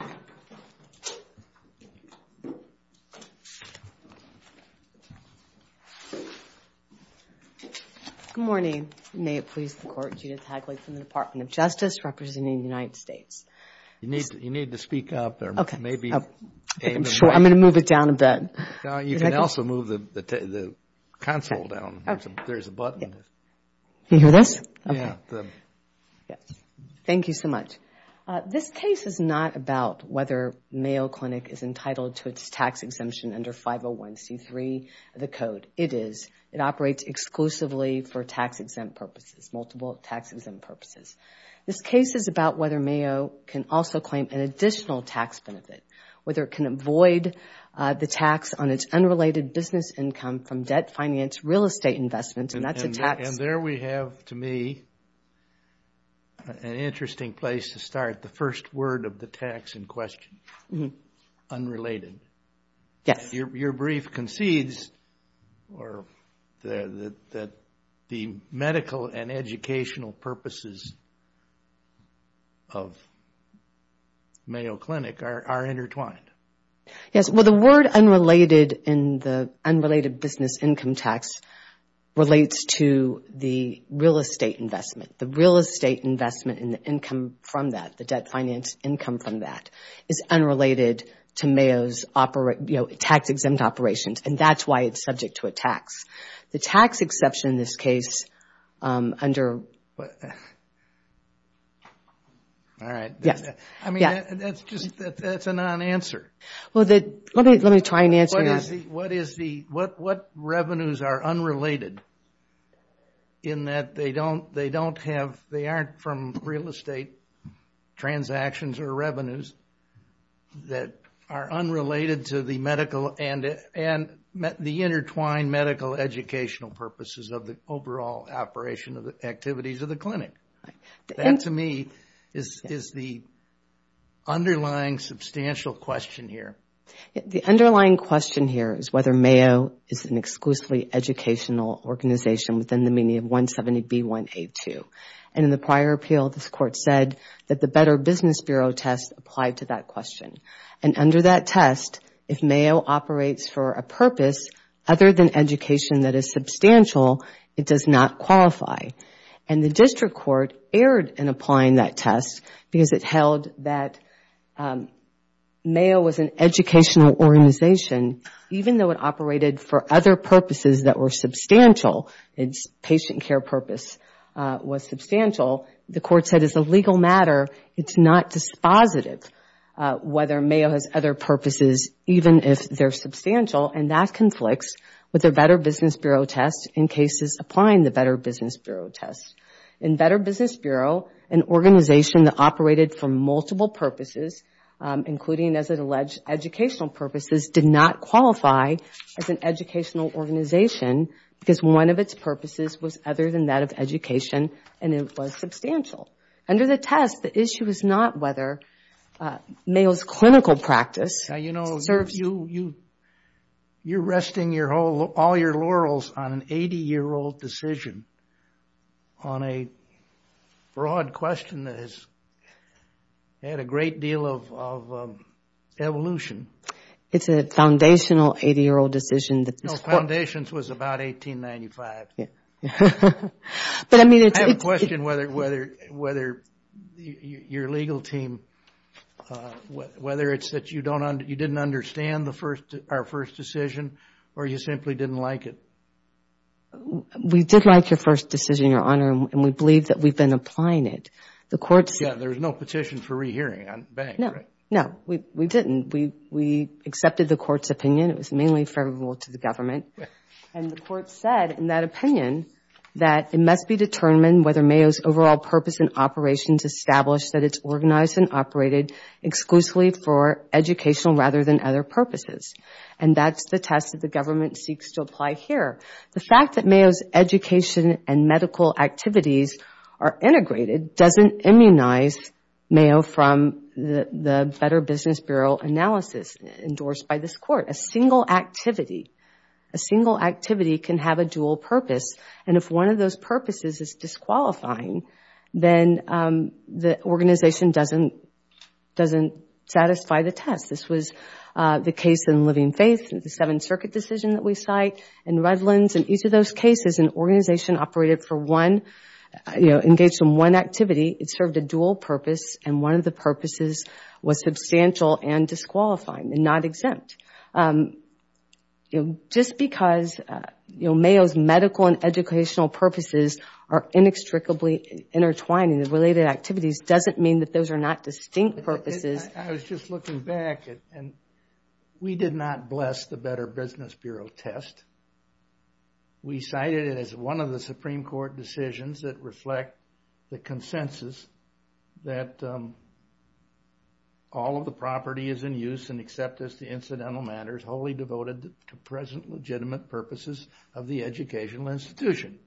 Good morning. May it please the Court, Judith Hagley from the Department of Justice representing the United States. You need to speak up. I'm going to move it down a bit. You can also move the console down. There's a button. Can you hear this? Thank you so much. This case is not about whether Mayo Clinic is entitled to its tax exemption under 501c3 of the Code. It is. It operates exclusively for tax-exempt purposes, multiple tax-exempt purposes. This case is about whether Mayo can also claim an additional tax benefit, whether it can avoid the tax on its unrelated business income from debt, finance, real estate investment, and that's a tax... There we have, to me, an interesting place to start, the first word of the tax in question, unrelated. Your brief concedes that the medical and educational purposes of Mayo Clinic are intertwined. Yes. Well, the word unrelated in the unrelated business income tax relates to the real estate investment. The real estate investment and the income from that, the debt finance income from that, is unrelated to Mayo's tax-exempt operations, and that's why it's subject to a tax. The tax exception in this case under... All right. I mean, that's just... that's a non-answer. Well, let me try and answer that. What is the... what revenues are unrelated in that they don't have... they aren't from real estate transactions or revenues that are unrelated to the medical and the intertwined medical educational purposes of the overall operation of the activities of the clinic? That, to me, is the underlying substantial question here. The underlying question here is whether Mayo is an exclusively educational organization within the meaning of 170B1A2, and in the prior appeal, this Court said that the Better Business Bureau test applied to that question, and under that test, if Mayo operates for a purpose other than education that is substantial, it does not qualify. And the District Court erred in applying that test because it held that Mayo was an educational organization even though it operated for other purposes that were substantial. Its patient care purpose was substantial. The Court said, as a legal matter, it's not dispositive whether Mayo has other purposes, even if they're substantial, and that conflicts with the Better Business Bureau test in cases applying the Better Business Bureau test. In Better Business Bureau, an organization that operated for multiple purposes, including, as it alleged, educational purposes, did not qualify as an educational organization because one of its purposes was other than that of education and it was substantial. Under the test, the issue is not whether Mayo's clinical practice serves... Now, you know, you're resting all your laurels on an 80-year-old decision on a broad question that has had a great deal of evolution. It's a foundational 80-year-old decision that... No, Foundations was about 1895. I have a question whether your legal team, whether it's that you didn't understand our first decision or you simply didn't like it. We did like your first decision, Your Honor, and we believe that we've been applying it. The Court said... Yeah, there was no petition for re-hearing on the bank, right? No, we didn't. We accepted the Court's opinion. It was mainly favorable to the government. And the Court said in that opinion that it must be determined whether Mayo's overall purpose and operations establish that it's organized and operated exclusively for educational rather than other purposes. And that's the test that the government seeks to apply here. The fact that Mayo's education and medical activities are integrated doesn't immunize Mayo from the Better Business Bureau analysis endorsed by this Court. A single activity can have a dual purpose. And if one of those purposes is disqualifying, then the organization doesn't satisfy the test. This was the case in Living Faith, the Seventh Circuit decision that we cite, in Redlands. In each of those cases, an organization engaged in one activity, it served a dual purpose and one of the purposes was substantial and disqualifying and not exempt. Just because Mayo's medical and educational purposes are inextricably intertwined in the related activities doesn't mean that those are not distinct purposes. I was just looking back and we did not bless the Better Business Bureau test. We cited it as one of the Supreme Court decisions that reflect the consensus that all of the property is in use and accept as the incidental matters wholly devoted to present legitimate purposes of the educational institution.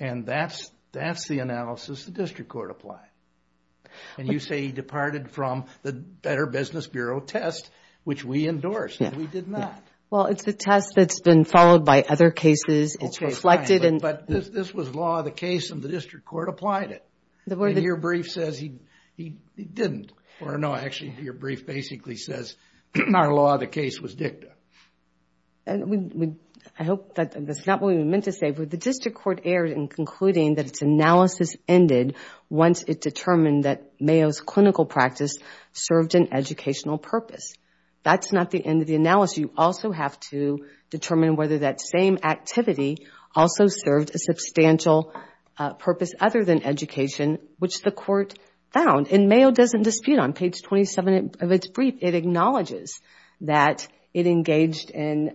And that's the analysis the District Court applied. And you say he departed from the Better Business Bureau test, which we endorsed and we did not. Well, it's a test that's been followed by other cases. It's reflected. But this was law of the case and the District Court applied it. Your brief says he didn't. Or no, actually your brief basically says our law of the case was dicta. I hope that's not what we meant to say, but the District Court erred in concluding that its analysis ended once it determined that Mayo's clinical practice served an educational purpose. That's not the end of the analysis. You also have to determine whether that same activity also served a substantial purpose other than education, which the Court found. And Mayo doesn't dispute on page 27 of its brief. It acknowledges that it engaged in,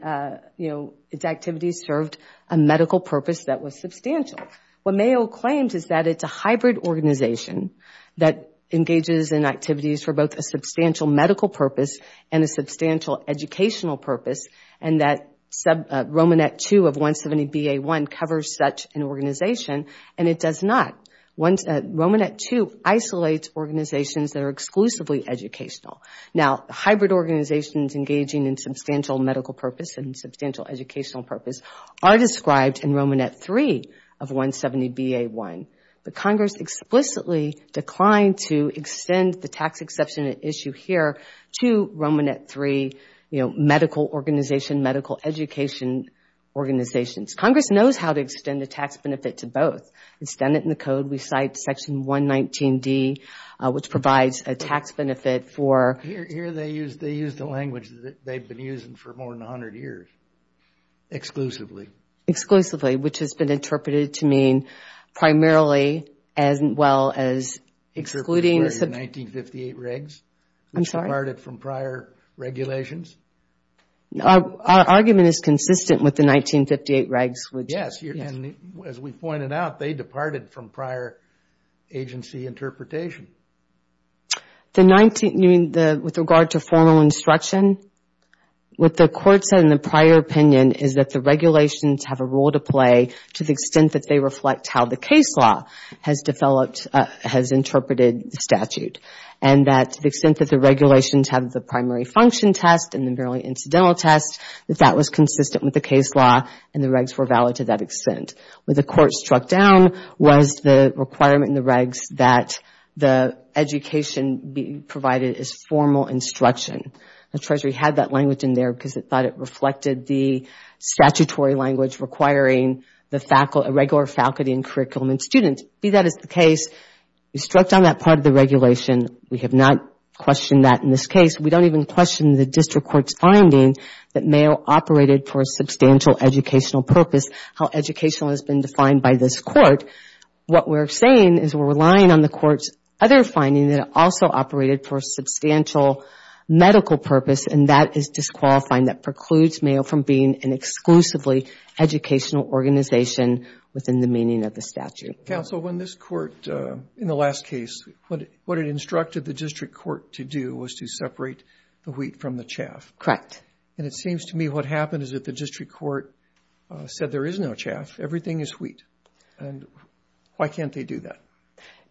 you know, its activities served a medical purpose that was substantial. What Mayo claims is that it's a hybrid organization that engages in activities for both a substantial medical purpose and a substantial educational purpose and that Romanet 2 of 170BA1 covers such an organization and it does not. Romanet 2 isolates organizations that are exclusively educational. Now, hybrid organizations engaging in substantial medical purpose and substantial educational purpose are described in Romanet 3 of 170BA1. But Congress explicitly declined to extend the tax exception issue here to Romanet 3, you know, medical organization, medical education organizations. Congress knows how to extend the tax benefit to both. Extended in the code, we cite section 119D, which provides a tax benefit for Here they use the language that they've been using for more than 100 years, exclusively. Exclusively, which has been interpreted to mean primarily as well as excluding Except for the 1958 regs. I'm sorry. Which departed from prior regulations. Our argument is consistent with the 1958 regs. Yes. And as we pointed out, they departed from prior agency interpretation. With regard to formal instruction, what the Court said in the prior opinion is that the regulations have a role to play to the extent that they reflect how the case law has developed, has interpreted the statute. And that to the extent that the regulations have the primary function test and the merely incidental test, that that was consistent with the case law and the regs were valid to that extent. What the Court struck down was the requirement in the regs that the education be provided as formal instruction. The Treasury had that language in there because it thought it reflected the statutory language requiring the regular faculty and curriculum and students. Be that as the case, we struck down that part of the regulation. We have not questioned that in this case. We don't even question the district court's finding that Mayo operated for a substantial educational purpose. How educational has been defined by this court. What we're saying is we're relying on the court's other finding that it also operated for substantial medical purpose and that is disqualifying. That precludes Mayo from being an exclusively educational organization within the meaning of the statute. Counsel, when this court, in the last case, what it instructed the district court to do was to separate the wheat from the chaff. Correct. And it seems to me what happened is that the district court said there is no chaff. Everything is wheat. And why can't they do that?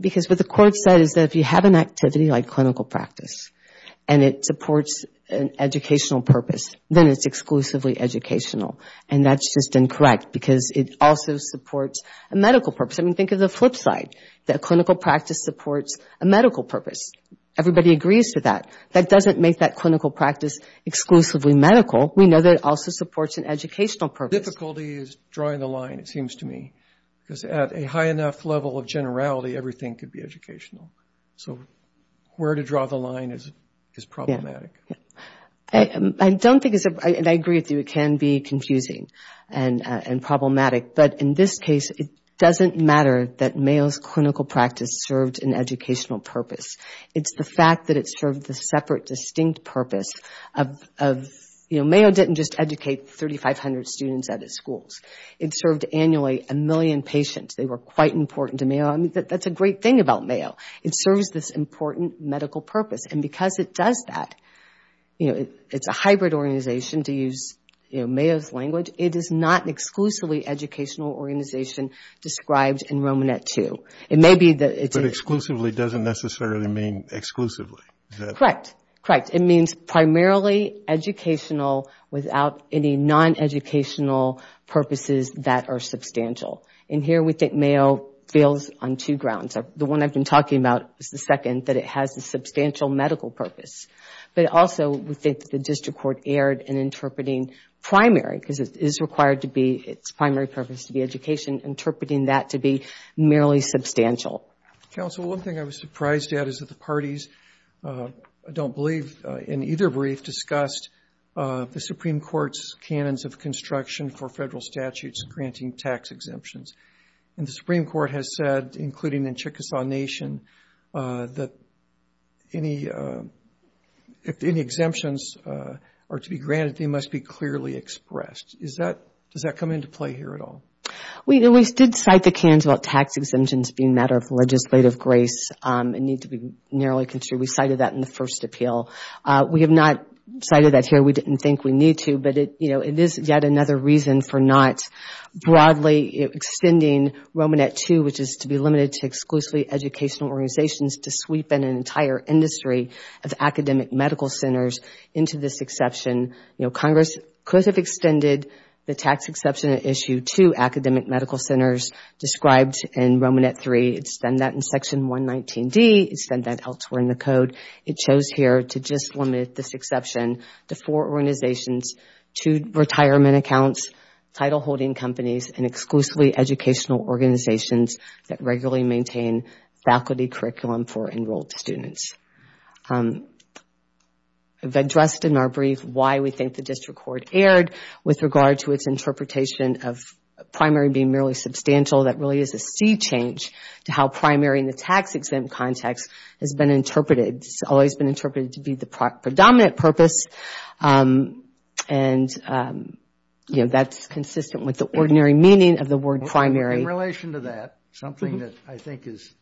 Because what the court said is that if you have an activity like clinical practice and it supports an educational purpose, then it's exclusively educational. And that's just incorrect because it also supports a medical purpose. I mean, think of the flip side, that clinical practice supports a medical purpose. Everybody agrees to that. That doesn't make that clinical practice exclusively medical. We know that it also supports an educational purpose. The difficulty is drawing the line, it seems to me, because at a high enough level of generality, everything could be educational. So where to draw the line is problematic. I agree with you. It can be confusing and problematic. But in this case, it doesn't matter that Mayo's clinical practice served an educational purpose. It's the fact that it served a separate, distinct purpose. You know, Mayo didn't just educate 3,500 students at its schools. It served annually a million patients. They were quite important to Mayo. I mean, that's a great thing about Mayo. It serves this important medical purpose. And because it does that, you know, it's a hybrid organization, to use, you know, Mayo's language. It is not an exclusively educational organization described in Romanet II. It may be that it's a... But exclusively doesn't necessarily mean exclusively. Correct. Correct. It means primarily educational without any non-educational purposes that are substantial. And here we think Mayo fails on two grounds. The one I've been talking about is the second, that it has a substantial medical purpose. But also we think that the district court erred in interpreting primary, because it is required to be its primary purpose to be education, interpreting that to be merely substantial. Counsel, one thing I was surprised at is that the parties, I don't believe in either brief, discussed the Supreme Court's canons of construction for federal statutes granting tax exemptions. And the Supreme Court has said, including in Chickasaw Nation, that if any exemptions are to be granted, they must be clearly expressed. Does that come into play here at all? We did cite the cans about tax exemptions being a matter of legislative grace and need to be narrowly construed. We cited that in the first appeal. We have not cited that here. We didn't think we need to. But it is yet another reason for not broadly extending Romanet II, which is to be limited to exclusively educational organizations, to sweep in an entire industry of academic medical centers into this exception. Congress could have extended the tax exception at issue to academic medical centers described in Romanet III. It's done that in Section 119D. It's done that elsewhere in the code. It chose here to just limit this exception to four organizations, two retirement accounts, title-holding companies, and exclusively educational organizations that regularly maintain faculty curriculum for enrolled students. I've addressed in our brief why we think the district court erred with regard to its interpretation of primary being merely substantial. That really is a sea change to how primary in the tax-exempt context has been interpreted. It's always been interpreted to be the predominant purpose, and that's consistent with the ordinary meaning of the word primary. In relation to that, something that I think is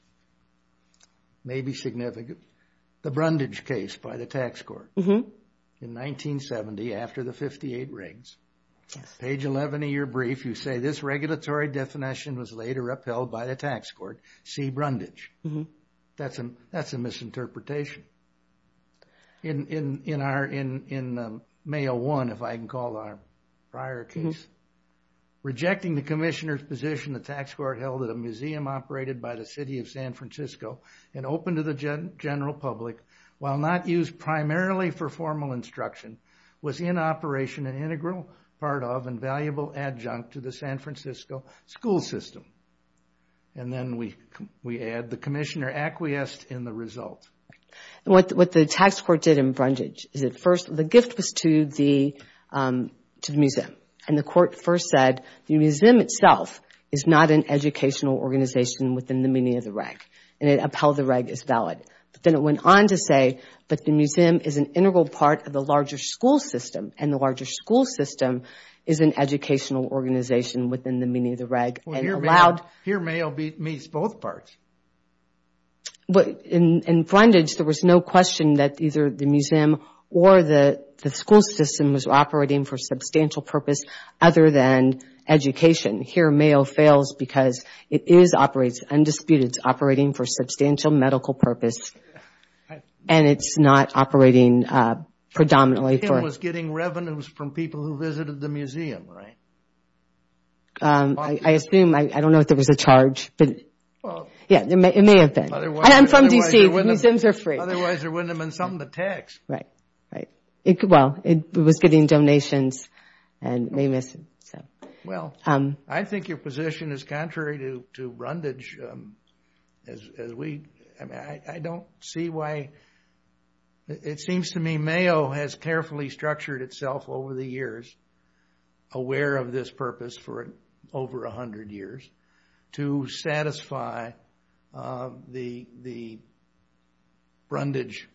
maybe significant, the Brundage case by the tax court in 1970 after the 58 rigs. Page 11 of your brief, you say, this regulatory definition was later upheld by the tax court, see Brundage. That's a misinterpretation. In May 01, if I can call our prior case, rejecting the commissioner's position the tax court held at a museum operated by the city of San Francisco and open to the general public, while not used primarily for formal instruction, was in operation an integral part of and valuable adjunct to the San Francisco school system. And then we add the commissioner acquiesced in the result. What the tax court did in Brundage is at first the gift was to the museum, and the court first said the museum itself is not an educational organization within the meaning of the reg. And it upheld the reg as valid. But then it went on to say that the museum is an integral part of the larger school system, and the larger school system is an educational organization within the meaning of the reg. And allowed. Here May meets both parts. In Brundage, there was no question that either the museum or the school system was operating for substantial purpose other than education. Here Mayo fails because it is operating, undisputed operating for substantial medical purpose. And it's not operating predominantly. It was getting revenues from people who visited the museum, right? I assume, I don't know if there was a charge. Yeah, it may have been. I'm from D.C. Museums are free. Otherwise there wouldn't have been something to tax. Right, right. Well, it was getting donations. Well, I think your position is contrary to Brundage. I don't see why. It seems to me Mayo has carefully structured itself over the years, aware of this purpose for over 100 years to satisfy the Brundage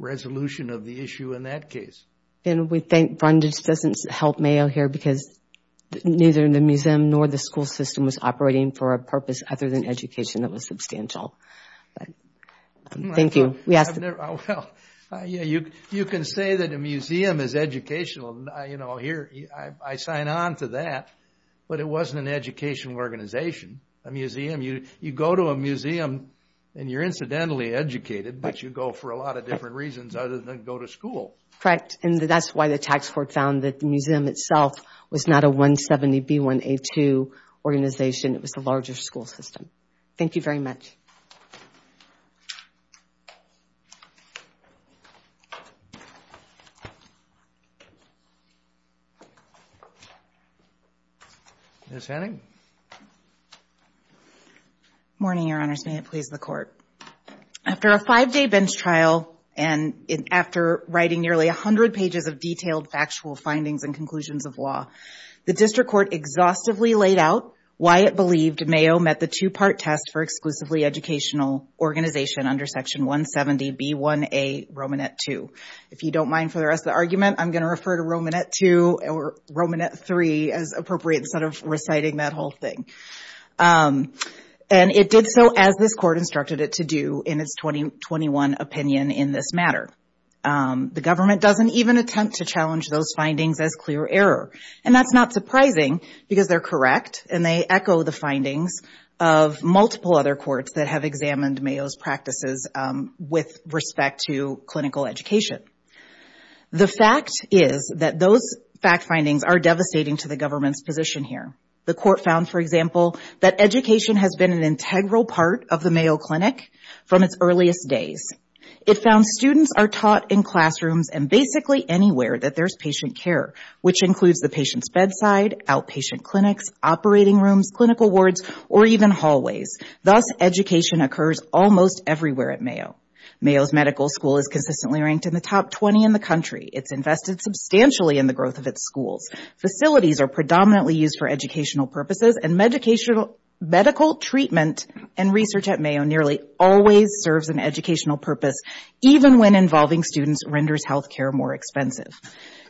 resolution of the issue in that case. And we think Brundage doesn't help Mayo here because neither the museum nor the school system was operating for a purpose other than education that was substantial. Thank you. Well, you can say that a museum is educational. I sign on to that. But it wasn't an educational organization, a museum. You go to a museum and you're incidentally educated, but you go for a lot of different reasons other than go to school. Correct. And that's why the tax court found that the museum itself was not a 170B1A2 organization. It was the larger school system. Thank you very much. Ms. Henning. Good morning, Your Honors. May it please the Court. After a five-day bench trial and after writing nearly 100 pages of detailed factual findings and conclusions of law, the district court exhaustively laid out why it believed Mayo met the two-part test for exclusively educational organization under Section 170B1A Romanet 2. If you don't mind for the rest of the argument, I'm going to refer to Romanet 2 or Romanet 3 as appropriate instead of reciting that whole thing. And it did so as this court instructed it to do in its 2021 opinion in this matter. The government doesn't even attempt to challenge those findings as clear error. And that's not surprising because they're correct and they echo the opinion of multiple other courts that have examined Mayo's practices with respect to clinical education. The fact is that those fact findings are devastating to the government's position here. The court found, for example, that education has been an integral part of the Mayo Clinic from its earliest days. It found students are taught in classrooms and basically anywhere that there's patient care, which includes the patient's bedside, outpatient clinics, operating rooms, clinical wards, or even hallways. Thus, education occurs almost everywhere at Mayo. Mayo's medical school is consistently ranked in the top 20 in the country. It's invested substantially in the growth of its schools. Facilities are predominantly used for educational purposes and medical treatment and research at Mayo nearly always serves an educational purpose, even when involving students renders healthcare more expensive.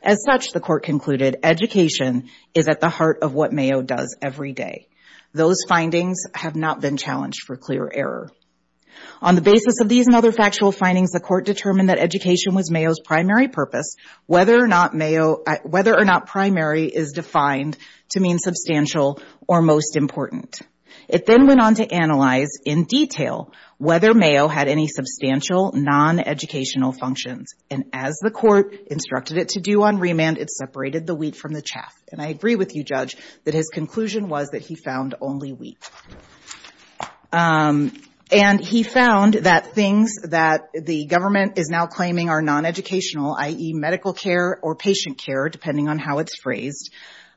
As such, the court concluded, education is at the heart of what Mayo does every day. Those findings have not been challenged for clear error. On the basis of these and other factual findings, the court determined that education was Mayo's primary purpose, whether or not primary is defined to mean substantial or most important. It then went on to analyze in detail whether Mayo had any substantial non-educational functions. And as the court instructed it to do on remand, it separated the wheat from the chaff. And I agree with you, Judge, that his conclusion was that he found only wheat. And he found that things that the government is now claiming are non-educational, i.e., medical care or patient care, depending on how it's phrased,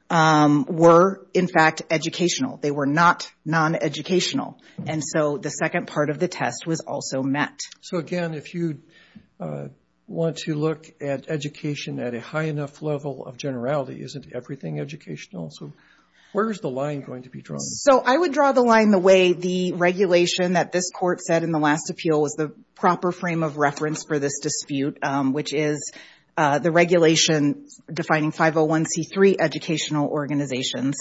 were, in fact, educational. They were not non-educational. And so the second part of the test was also met. So, again, if you want to look at education at a high enough level of generality, isn't everything educational? So where is the line going to be drawn? So I would draw the line the way the regulation that this court said in the last appeal was the proper frame of reference for this dispute, which is the regulation defining 501C3 educational organizations.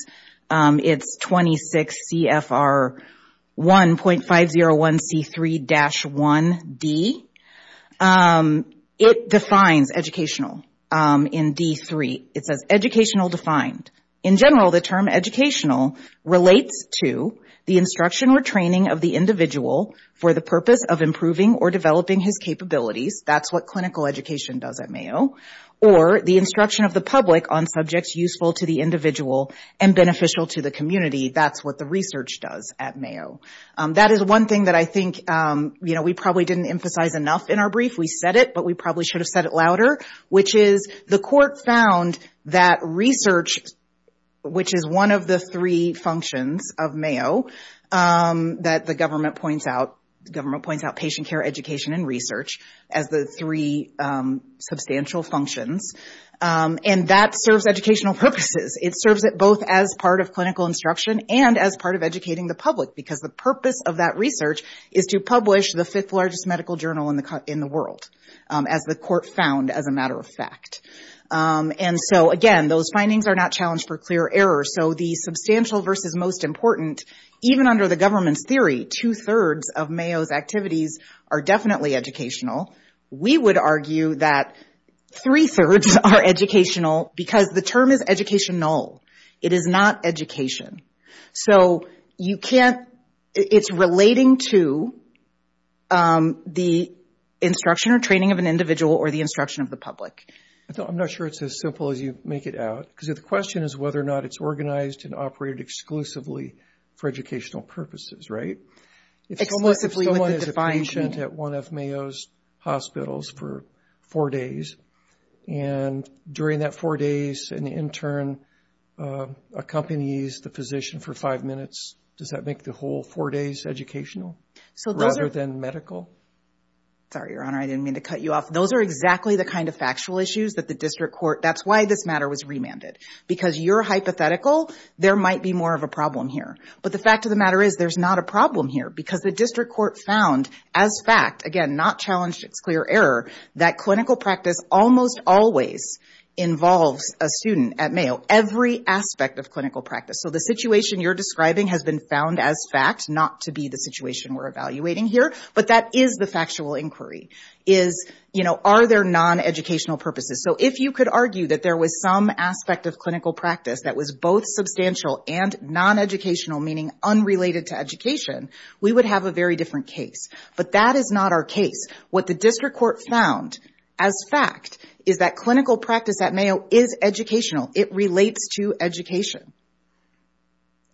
It's 26 CFR 1.501C3-1D. It defines educational in D3. It says educational defined. In general, the term educational relates to the instruction or training of the individual for the purpose of improving or developing his capabilities. That's what clinical education does at Mayo. Or the instruction of the public on subjects useful to the individual and beneficial to the community. That's what the research does at Mayo. That is one thing that I think, you know, we probably didn't emphasize enough in our brief. We said it, but we probably should have said it louder, which is the court found that research, which is one of the three functions of Mayo that the government points out, patient care, education, and research as the three substantial functions. And that serves educational purposes. It serves it both as part of clinical instruction and as part of educating the public because the purpose of that research is to publish the fifth largest medical journal in the world, as the court found, as a matter of fact. And so, again, those findings are not challenged for clear error. So the substantial versus most important, even under the government's theory, two-thirds of Mayo's activities are definitely educational. We would argue that three-thirds are educational because the term is educational. It is not education. So you can't – it's relating to the instruction or training of an individual or the instruction of the public. I'm not sure it's as simple as you make it out because the question is whether or not it's organized and operated exclusively for educational purposes, right? If someone is a patient at one of Mayo's hospitals for four days, and during that four days an intern accompanies the physician for five minutes, does that make the whole four days educational rather than medical? Sorry, Your Honor, I didn't mean to cut you off. Those are exactly the kind of factual issues that the district court – that's why this matter was remanded, because you're hypothetical. There might be more of a problem here. But the fact of the matter is there's not a problem here because the district court found as fact – again, not challenged, it's clear error – that clinical practice almost always involves a student at Mayo, every aspect of clinical practice. So the situation you're describing has been found as fact, not to be the situation we're evaluating here. But that is the factual inquiry, is, you know, are there non-educational purposes? So if you could argue that there was some aspect of clinical practice that was both substantial and non-educational, meaning unrelated to education, we would have a very different case. But that is not our case. What the district court found as fact is that clinical practice at Mayo is educational. It relates to education.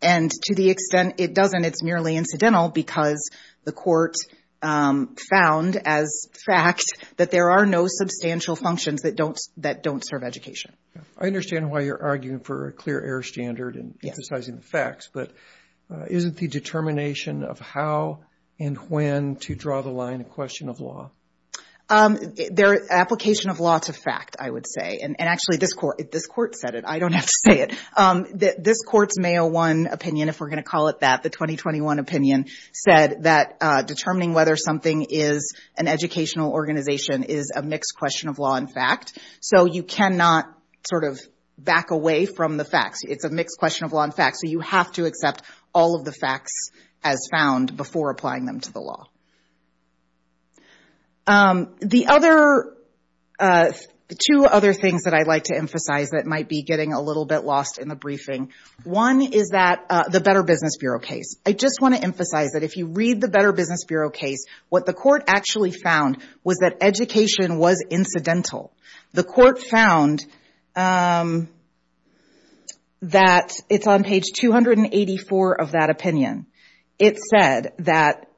And to the extent it doesn't, it's merely incidental because the court found as fact that there are no substantial functions that don't serve education. I understand why you're arguing for a clear error standard and emphasizing the facts, but isn't the determination of how and when to draw the line a question of law? They're an application of law to fact, I would say. And actually, this court said it. I don't have to say it. This court's Mayo 1 opinion, if we're going to call it that, the 2021 opinion, said that determining whether something is an educational organization is a mixed question of law and fact. So you cannot sort of back away from the facts. It's a mixed question of law and fact. So you have to accept all of the facts as found before applying them to the law. The other two other things that I'd like to emphasize that might be getting a little bit lost in the briefing, one is that the Better Business Bureau case. I just want to emphasize that if you read the Better Business Bureau case, what the court actually found was that education was incidental. The court found that it's on page 284 of that opinion. It said that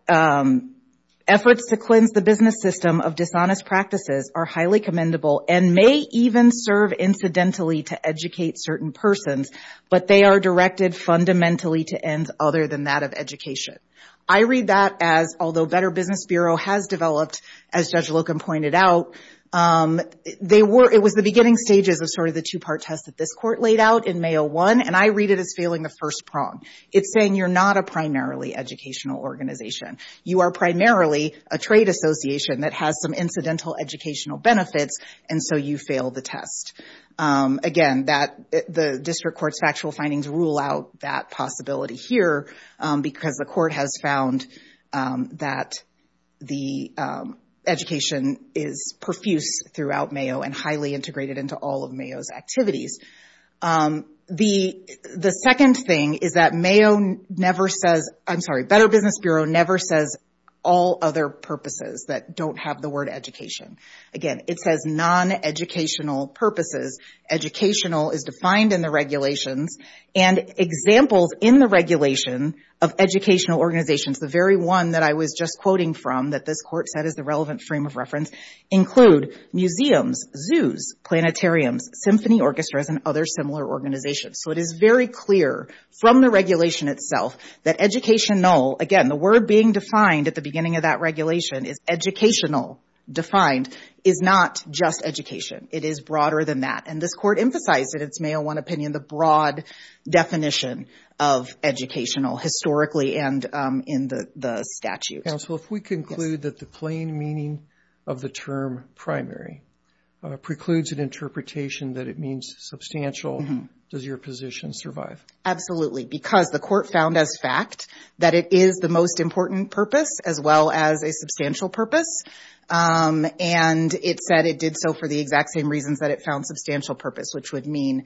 efforts to cleanse the business system of dishonest practices are highly commendable and may even serve incidentally to educate certain persons, but they are directed fundamentally to end other than that of education. I read that as, although Better Business Bureau has developed, as Judge Loken pointed out, it was the beginning stages of sort of the two-part test that this court laid out in Mayo 1, and I read it as failing the first prong. It's saying you're not a primarily educational organization. You are primarily a trade association that has some incidental educational benefits, and so you fail the test. Again, the district court's factual findings rule out that possibility here because the court has found that the education is profuse throughout Mayo and highly integrated into all of Mayo's activities. The second thing is that Better Business Bureau never says all other purposes that don't have the word education. Again, it says non-educational purposes. Educational is defined in the regulations, and examples in the regulation of educational organizations, the very one that I was just quoting from that this court said is the relevant frame of reference, include museums, zoos, planetariums, symphony orchestras, and other similar organizations. So it is very clear from the regulation itself that educational, again, the word being defined at the beginning of that regulation is educational defined, is not just education. It is broader than that, and this court emphasized in its Mayo 1 opinion the broad definition of educational historically and in the statute. Counsel, if we conclude that the plain meaning of the term primary precludes an interpretation that it means substantial, does your position survive? Absolutely, because the court found as fact that it is the most important purpose as well as a substantial purpose, and it said it did so for the exact same reasons that it found substantial purpose, which would mean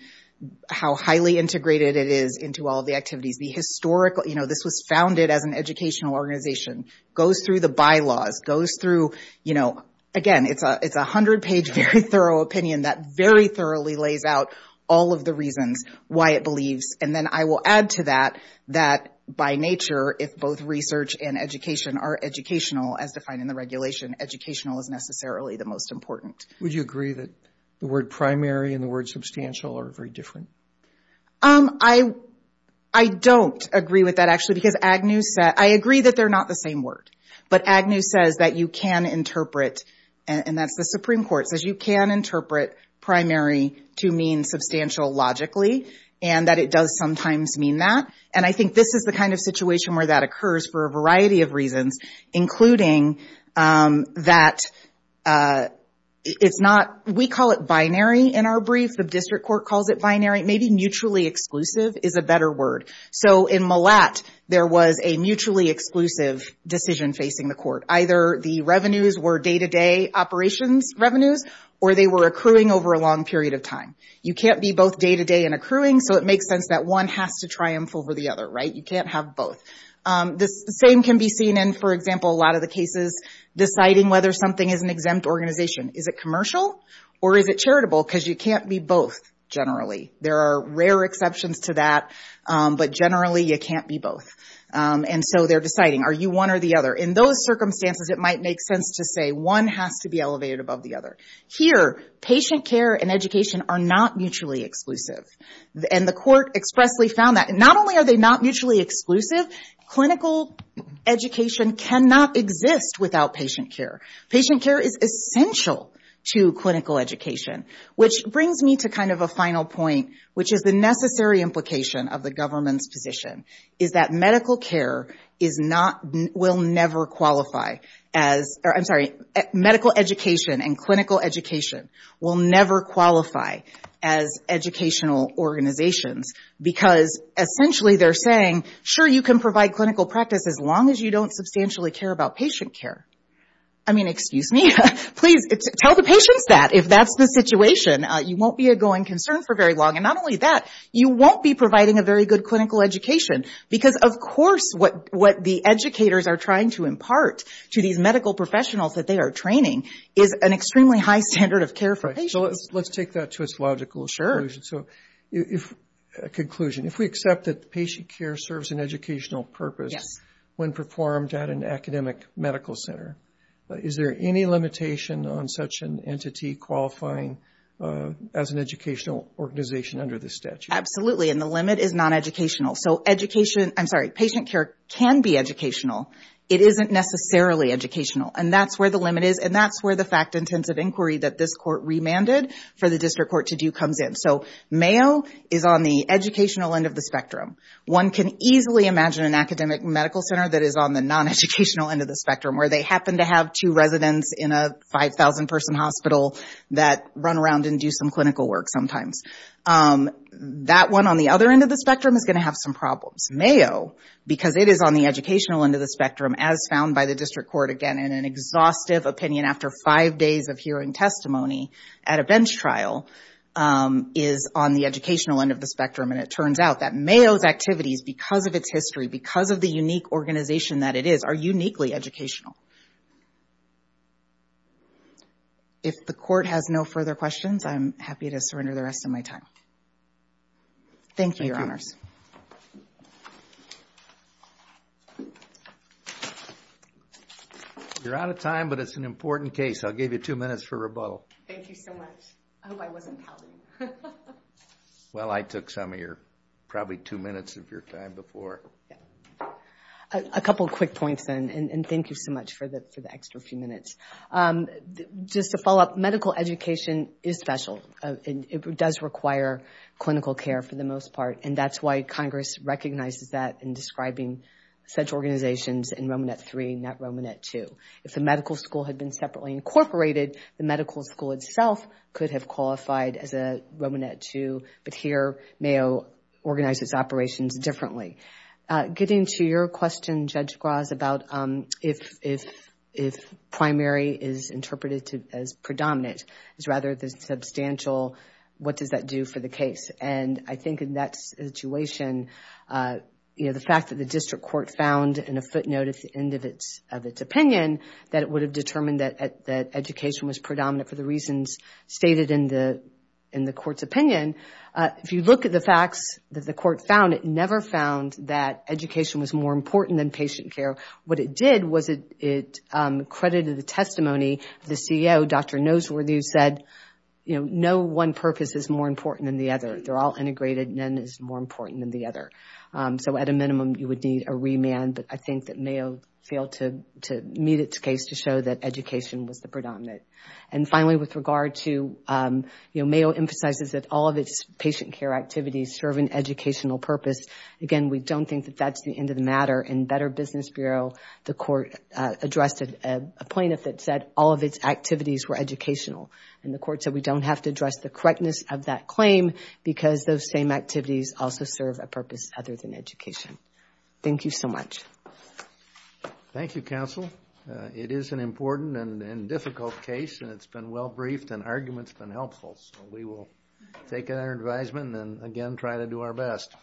how highly integrated it is into all of the activities. The historical, you know, this was founded as an educational organization, goes through the bylaws, goes through, you know, again, it's a 100-page, very thorough opinion that very thoroughly lays out all of the reasons why it believes. And then I will add to that that by nature, if both research and education are educational as defined in the regulation, educational is necessarily the most important. Would you agree that the word primary and the word substantial are very different? I don't agree with that, actually, because Agnew said, I agree that they're not the same word, but Agnew says that you can interpret, and that's the Supreme Court, says you can interpret primary to mean substantial logically, and that it does sometimes mean that. And I think this is the kind of situation where that occurs for a variety of reasons, including that it's not, we call it binary in our brief, the district court calls it binary, maybe mutually exclusive is a better word. So in Millat, there was a mutually exclusive decision facing the court. Either the revenues were day-to-day operations revenues, or they were accruing over a long period of time. You can't be both day-to-day and accruing, so it makes sense that one has to triumph over the other, right? You can't have both. The same can be seen in, for example, a lot of the cases, deciding whether something is an exempt organization. Is it commercial, or is it charitable? Because you can't be both, generally. There are rare exceptions to that, but generally you can't be both. And so they're deciding, are you one or the other? In those circumstances, it might make sense to say one has to be elevated above the other. Here, patient care and education are not mutually exclusive, and the court expressly found that. Not only are they not mutually exclusive, clinical education cannot exist without patient care. Patient care is essential to clinical education, which brings me to kind of a final point, which is the necessary implication of the government's position, is that medical education and clinical education will never qualify as educational organizations, because essentially they're saying, sure, you can provide clinical practice as long as you don't substantially care about patient care. I mean, excuse me? Please, tell the patients that, if that's the situation. You won't be a going concern for very long. And not only that, you won't be providing a very good clinical education, because of course what the educators are trying to impart to these medical professionals that they are training is an extremely high standard of care for patients. Let's take that to its logical conclusion. If we accept that patient care serves an educational purpose when performed at an academic medical center, is there any limitation on such an entity qualifying as an educational organization under this statute? And the limit is non-educational. So patient care can be educational. It isn't necessarily educational. And that's where the limit is, and that's where the fact-intensive inquiry that this court remanded for the district court to do comes in. So Mayo is on the educational end of the spectrum. One can easily imagine an academic medical center that is on the non-educational end of the spectrum, where they happen to have two residents in a 5,000-person hospital that run around and do some clinical work sometimes. That one on the other end of the spectrum is going to have some problems. Mayo, because it is on the educational end of the spectrum, as found by the district court again in an exhaustive opinion after five days of hearing testimony at a bench trial, is on the educational end of the spectrum. And it turns out that Mayo's activities, because of its history, because of the unique organization that it is, are uniquely educational. If the court has no further questions, I'm happy to surrender the rest of my time. Thank you, Your Honors. You're out of time, but it's an important case. I'll give you two minutes for rebuttal. Thank you so much. I hope I wasn't pounding you. Well, I took some of your, probably two minutes of your time before. A couple quick points, then, and thank you so much for the extra few minutes. Just to follow up, medical education is special. It does require clinical care for the most part, and that's why Congress recognizes that in describing such organizations in Romanet III, not Romanet II. If the medical school had been separately incorporated, the medical school itself could have qualified as a Romanet II, but here, Mayo organizes operations differently. Getting to your question, Judge Graz, about if primary is interpreted as predominant, it's rather the substantial, what does that do for the case? And I think in that situation, the fact that the district court found in a footnote at the end of its opinion, that it would have determined that education was predominant for the reasons stated in the court's opinion. If you look at the facts that the court found, it never found that education was more important than patient care. What it did was it credited the testimony of the CEO, Dr. Noseworthy, who said, you know, no one purpose is more important than the other. They're all integrated. None is more important than the other. So at a minimum, you would need a remand, but I think that Mayo failed to meet its case to show that education was the predominant. And finally, with regard to, you know, Mayo emphasizes that all of its patient care activities serve an educational purpose. Again, we don't think that that's the end of the matter. In Better Business Bureau, the court addressed a plaintiff that said all of its activities were educational, and the court said we don't have to address the correctness of that claim because those same activities also serve a purpose other than education. Thank you so much. Thank you, counsel. It is an important and difficult case, and it's been well briefed, and arguments have been helpful. So we will take our advisement and, again, try to do our best.